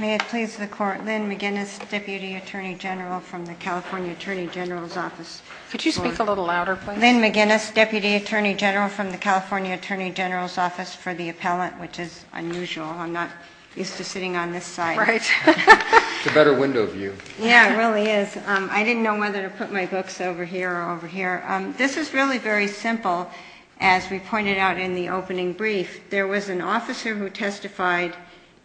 May it please the Court, Lynn McGinnis, Deputy Attorney General from the California Attorney General's Office. Could you speak a little louder, please? Lynn McGinnis, Deputy Attorney General from the California Attorney General's Office for the Appellant, which is unusual. I'm not used to sitting on this side. Right. It's a better window view. Yeah, it really is. I didn't know whether to put my books over here or over here. This is really very simple, as we pointed out in the opening brief. There was an officer who testified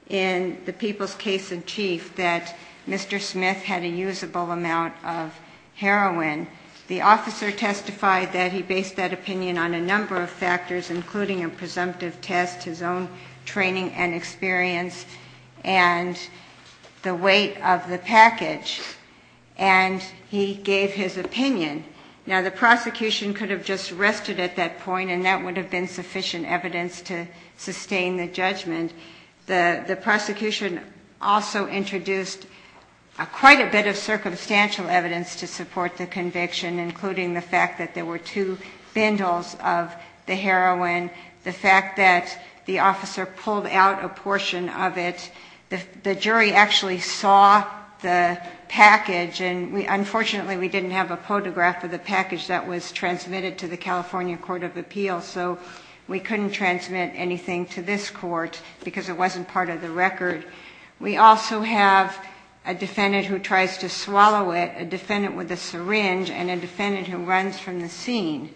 in the People's Case-in-Chief that Mr. Smith had a usable amount of heroin. The officer testified that he based that opinion on a number of factors, including a presumptive test, his own training and experience, and the weight of the package. And he gave his opinion. Now, the prosecution could have just rested at that point, and that would have been sufficient evidence to sustain the judgment. The prosecution also introduced quite a bit of circumstantial evidence to support the conviction, including the fact that there were two bindles of the heroin, the fact that the officer pulled out a portion of it. The jury actually saw the package, and unfortunately, we didn't have a photograph of the package that was transmitted to the California Court of Appeals, so we couldn't transmit anything to this court because it wasn't part of the record. We also have a defendant who tries to swallow it, a defendant with a syringe, and a defendant who runs from the scene.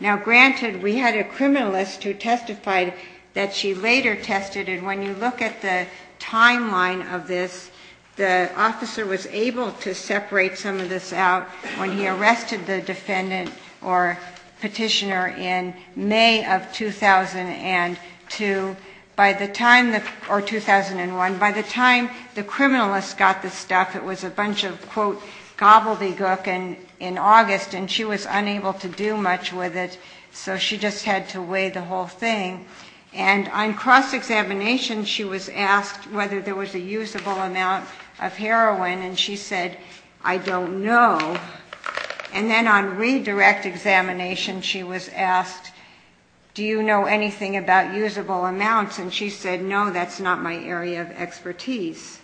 Now, granted, we had a criminalist who testified that she later tested, and when you look at the timeline of this, the officer was able to separate some of this out when he arrested the defendant or petitioner in May of 2002, or 2001. And by the time the criminalist got the stuff, it was a bunch of, quote, gobbledygook in August, and she was unable to do much with it, so she just had to weigh the whole thing. And on cross-examination, she was asked whether there was a usable amount of heroin, and she said, I don't know. And then on redirect examination, she was asked, do you know anything about usable amounts? And she said, no, that's not my area of expertise.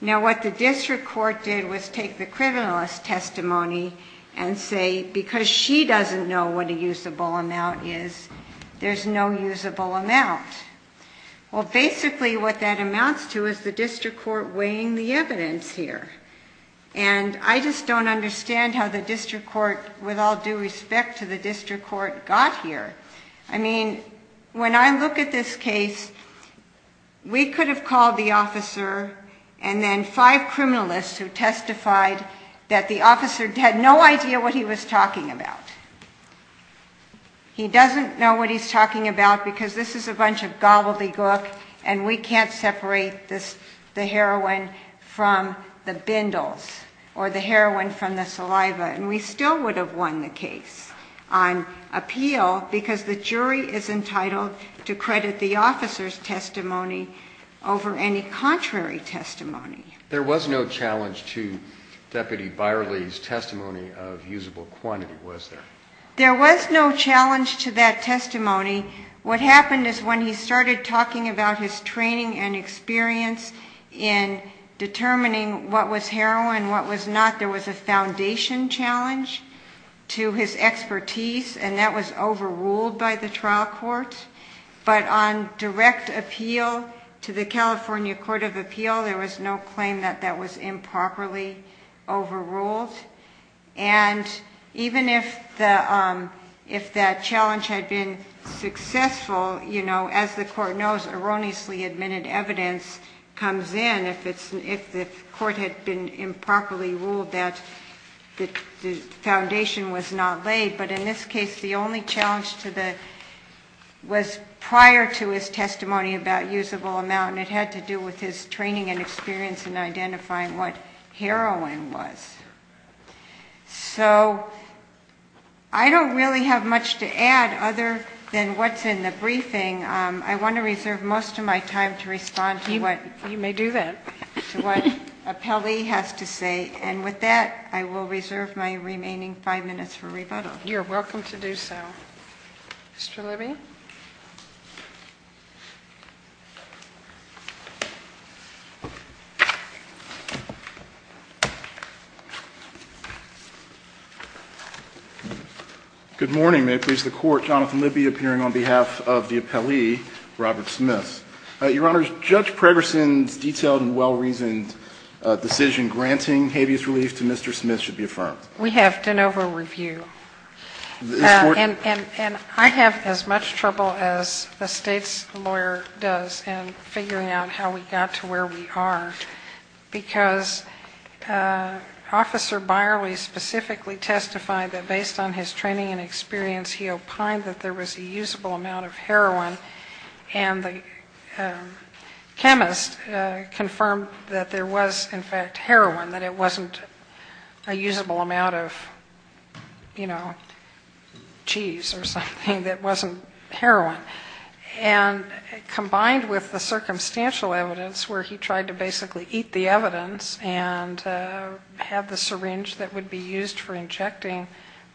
Now, what the district court did was take the criminalist's testimony and say, because she doesn't know what a usable amount is, there's no usable amount. Well, basically, what that amounts to is the district court weighing the evidence here, and I just don't understand how the district court, with all due respect to the district court, got here. I mean, when I look at this case, we could have called the officer, and then five criminalists who testified that the officer had no idea what he was talking about. He doesn't know what he's talking about because this is a bunch of gobbledygook, and we can't separate the heroin from the bindles or the heroin from the saliva, and we still would have won the case on appeal because the jury is entitled to credit the officer's testimony over any contrary testimony. There was no challenge to Deputy Byerly's testimony of usable quantity, was there? There was no challenge to that testimony. What happened is when he started talking about his training and experience in determining what was heroin, what was not, there was a foundation challenge to his expertise, and that was overruled by the trial court, but on direct appeal to the California Court of Appeal, there was no claim that that was improperly overruled, and even if that challenge had been successful, as the court knows, erroneously admitted evidence comes in. If the court had been improperly ruled that the foundation was not laid, but in this case the only challenge was prior to his testimony about usable amount, and it had to do with his training and experience in identifying what heroin was. So I don't really have much to add other than what's in the briefing. I want to reserve most of my time to respond to what... You may do that. ...to what Apelli has to say, and with that, I will reserve my remaining five minutes for rebuttal. You're welcome to do so. Mr. Levy? Good morning. May it please the Court. Jonathan Levy appearing on behalf of the Apelli, Robert Smith. Your Honors, Judge Pregerson's detailed and well-reasoned decision granting habeas relief to Mr. Smith should be affirmed. We have de novo review. And I have as much trouble as the State's lawyer does in figuring out how we got to where we are, because Officer Byerly specifically testified that based on his training and experience, he opined that there was a usable amount of heroin, and the chemist confirmed that there was in fact heroin, that it wasn't a usable amount of, you know, cheese or something that wasn't heroin. And combined with the circumstantial evidence where he tried to basically eat the evidence and have the syringe that would be used for injecting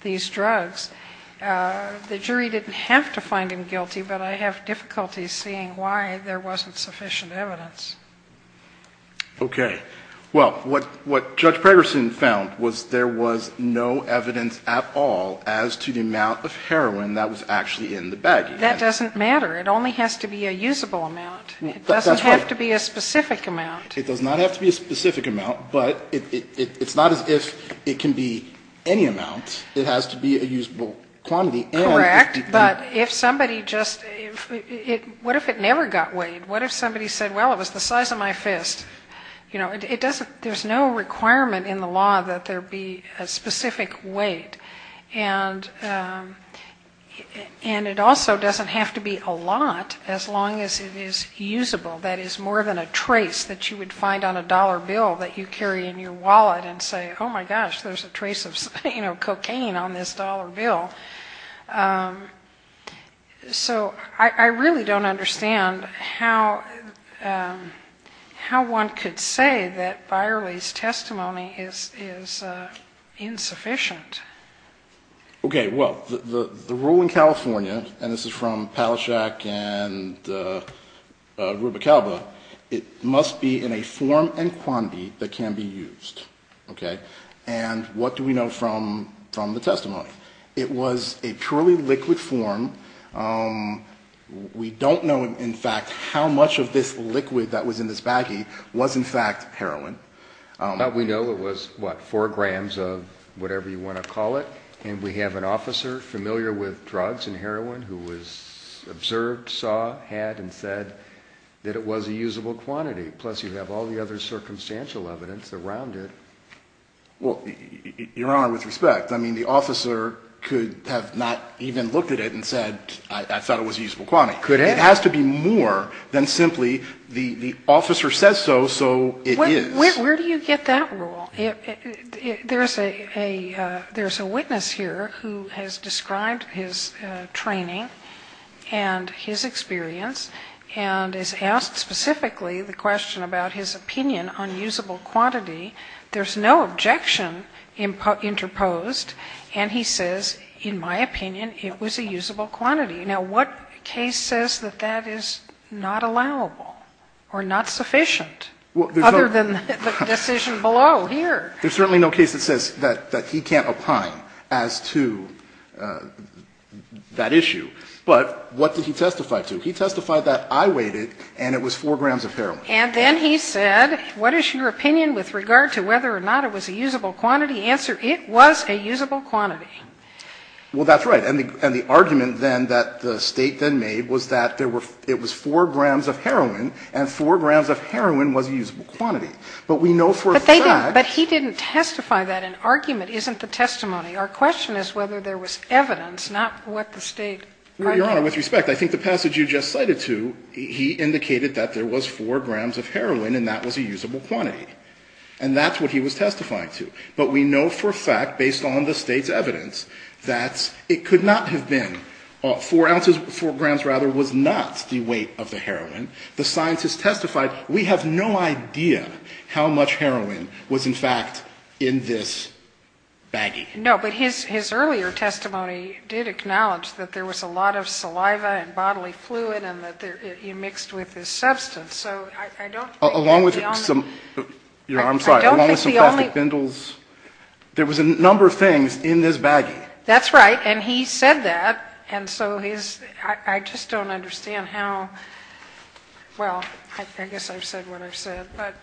these drugs, the jury didn't have to find him guilty, but I have difficulty seeing why there wasn't sufficient evidence. Okay. Well, what Judge Pregerson found was there was no evidence at all as to the amount of heroin that was actually in the baggie. That doesn't matter. It only has to be a usable amount. It doesn't have to be a specific amount. It does not have to be a specific amount, but it's not as if it can be any amount. It has to be a usable quantity. Correct. But if somebody just, what if it never got weighed? What if somebody said, well, it was the size of my fist? You know, it doesn't, there's no requirement in the law that there be a specific weight. And it also doesn't have to be a lot as long as it is usable. That is more than a trace that you would find on a dollar bill that you carry in your wallet and say, oh, my gosh, there's a trace of, you know, cocaine on this dollar bill. So I really don't understand how one could say that Byerly's testimony is insufficient. Okay. Well, the rule in California, and this is from Palaszczuk and Rubicalba, it must be in a form and quantity that can be used. Okay? And what do we know from the testimony? It was a purely liquid form. We don't know, in fact, how much of this liquid that was in this baggie was, in fact, heroin. We know it was, what, four grams of whatever you want to call it. And we have an officer familiar with drugs and heroin who was observed, saw, had, and said that it was a usable quantity. Plus, you have all the other circumstantial evidence around it. Well, Your Honor, with respect, I mean, the officer, could have not even looked at it and said, I thought it was a usable quantity. Could have. It has to be more than simply the officer says so, so it is. Where do you get that rule? There's a witness here who has described his training and his experience, and has asked specifically the question about his opinion on usable quantity. There's no objection interposed. And he says, in my opinion, it was a usable quantity. Now, what case says that that is not allowable or not sufficient other than the decision below here? There's certainly no case that says that he can't opine as to that issue. But what did he testify to? He testified that I weighed it, and it was four grams of heroin. And then he said, what is your opinion with regard to whether or not it was a usable quantity? Answer, it was a usable quantity. Well, that's right. And the argument, then, that the State then made was that there were, it was four grams of heroin, and four grams of heroin was a usable quantity. But we know for a fact. But he didn't testify that. An argument isn't the testimony. Our question is whether there was evidence, not what the State argued. Well, Your Honor, with respect, I think the passage you just cited to, he indicated that there was four grams of heroin, and that was a usable quantity. And that's what he was testifying to. But we know for a fact, based on the State's evidence, that it could not have been four ounces, four grams, rather, was not the weight of the heroin. The scientists testified, we have no idea how much heroin was, in fact, in this baggie. No, but his earlier testimony did acknowledge that there was a lot of saliva and substance. So I don't think the only. Along with some, Your Honor, I'm sorry. I don't think the only. Along with some plastic bindles. There was a number of things in this baggie. That's right. And he said that. And so his, I just don't understand how, well, I guess I've said what I've said. But.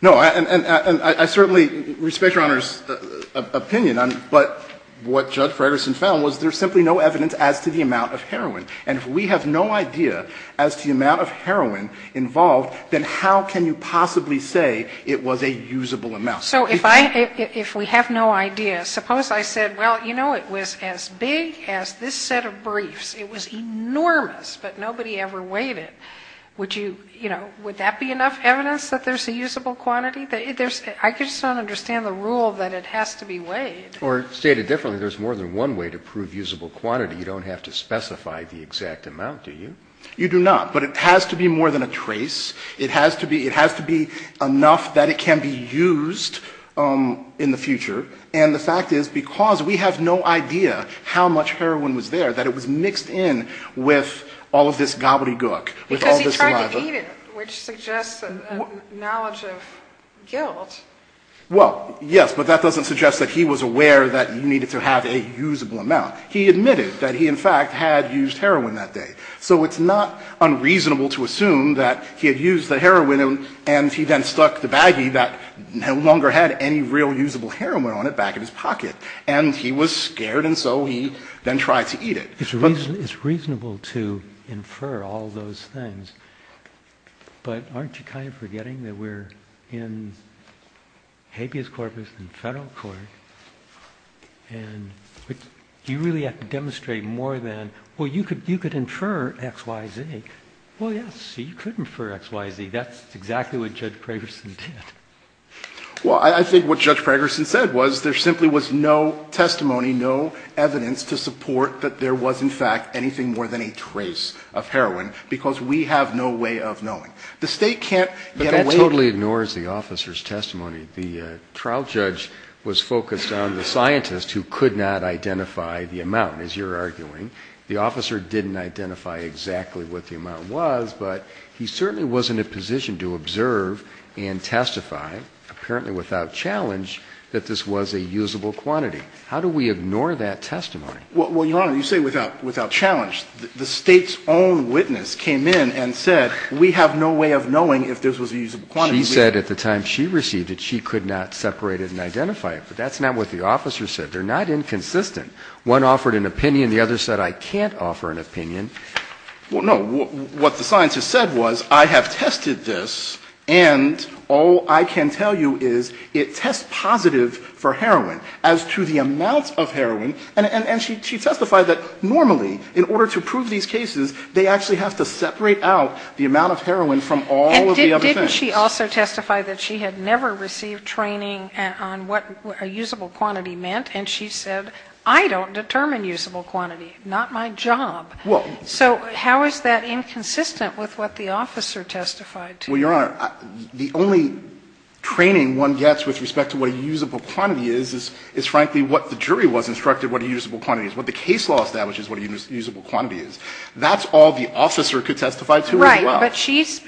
No. And I certainly respect Your Honor's opinion. But what Judge Frederickson found was there's simply no evidence as to the amount of heroin. And if we have no idea as to the amount of heroin involved, then how can you possibly say it was a usable amount? So if I, if we have no idea, suppose I said, well, you know, it was as big as this set of briefs. It was enormous, but nobody ever weighed it. Would you, you know, would that be enough evidence that there's a usable quantity? There's, I just don't understand the rule that it has to be weighed. Or stated differently, there's more than one way to prove usable quantity. You don't have to specify the exact amount, do you? You do not. But it has to be more than a trace. It has to be, it has to be enough that it can be used in the future. And the fact is, because we have no idea how much heroin was there, that it was mixed in with all of this gobbledygook. Because he tried to eat it, which suggests a knowledge of guilt. Well, yes, but that doesn't suggest that he was aware that you needed to have a usable amount. He admitted that he, in fact, had used heroin that day. So it's not unreasonable to assume that he had used the heroin and he then stuck the baggie that no longer had any real usable heroin on it back in his pocket. And he was scared, and so he then tried to eat it. But it's reasonable to infer all those things. But aren't you kind of forgetting that we're in habeas corpus and Federal Court, and you really have to demonstrate more than, well, you could infer X, Y, Z. Well, yes, you could infer X, Y, Z. That's exactly what Judge Pragerson did. Well, I think what Judge Pragerson said was there simply was no testimony, no evidence to support that there was, in fact, anything more than a trace of heroin because we have no way of knowing. The State can't get away with it. But that totally ignores the officer's testimony. The trial judge was focused on the scientist who could not identify the amount, as you're arguing. The officer didn't identify exactly what the amount was, but he certainly wasn't in a position to observe and testify, apparently without challenge, that this was a usable quantity. How do we ignore that testimony? Well, Your Honor, you say without challenge. The State's own witness came in and said we have no way of knowing if this was a usable quantity. She said at the time she received it she could not separate it and identify it. But that's not what the officer said. They're not inconsistent. One offered an opinion. The other said I can't offer an opinion. No. What the scientist said was I have tested this, and all I can tell you is it tests positive for heroin as to the amount of heroin. And she testified that normally in order to prove these cases, they actually have to separate out the amount of heroin from all of the other things. But didn't she also testify that she had never received training on what a usable quantity meant, and she said I don't determine usable quantity, not my job. So how is that inconsistent with what the officer testified to? Well, Your Honor, the only training one gets with respect to what a usable quantity is, is frankly what the jury was instructed what a usable quantity is, what the case law establishes what a usable quantity is. That's all the officer could testify to as well. Right. But she's,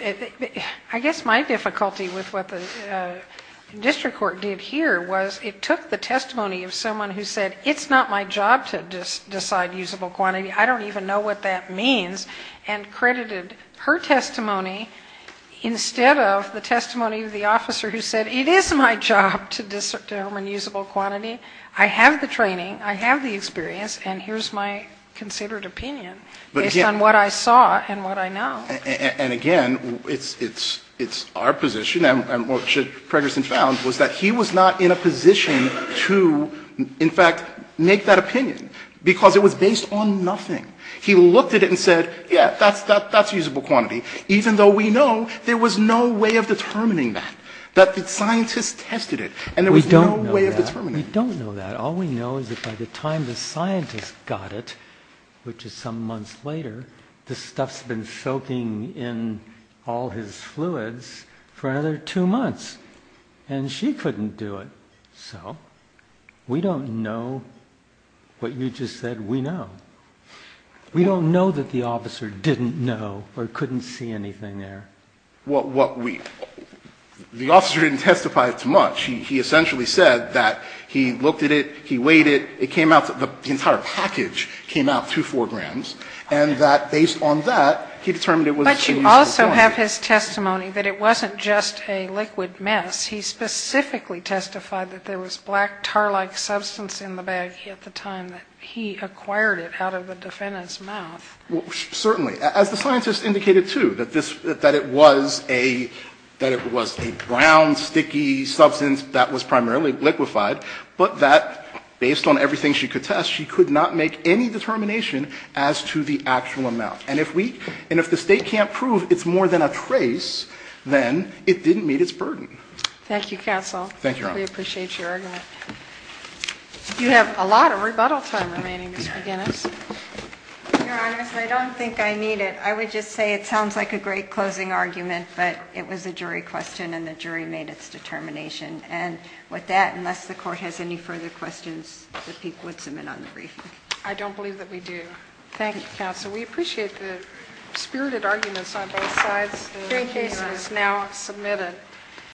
I guess my difficulty with what the district court did here was it took the testimony of someone who said it's not my job to decide usable quantity, I don't even know what that means, and credited her testimony instead of the testimony of the officer who said it is my job to determine usable quantity, I have the training, I have the experience, and here's my considered opinion based on what I saw and what I know. And again, it's our position, and what Judge Pregerson found was that he was not in a position to, in fact, make that opinion, because it was based on nothing. He looked at it and said, yeah, that's usable quantity, even though we know there was no way of determining that, that the scientist tested it, and there was no way of determining it. We don't know that. All we know is that by the time the scientist got it, which is some months later, this stuff's been soaking in all his fluids for another two months. And she couldn't do it. So we don't know what you just said we know. We don't know that the officer didn't know or couldn't see anything there. Well, what we, the officer didn't testify to much. He essentially said that he looked at it, he weighed it, it came out, the entire package came out to 4 grams, and that based on that, he determined it was a usable quantity. But you also have his testimony that it wasn't just a liquid mess. He specifically testified that there was black tar-like substance in the bag at the time that he acquired it out of the defendant's mouth. Well, certainly. As the scientist indicated, too, that this, that it was a, that it was a brown, sticky substance that was primarily liquefied, but that based on everything she could test, she could not make any determination as to the actual amount. And if we, and if the State can't prove it's more than a trace, then it didn't meet its burden. Thank you, Counsel. Thank you, Your Honor. We appreciate your argument. You have a lot of rebuttal time remaining, Ms. McGinnis. Your Honor, I don't think I need it. I would just say it sounds like a great closing argument, but it was a jury question and the jury made its determination. And with that, unless the Court has any further questions that people would submit on the briefing. I don't believe that we do. Thank you, Counsel. We appreciate the spirited arguments on both sides. The case is now submitted.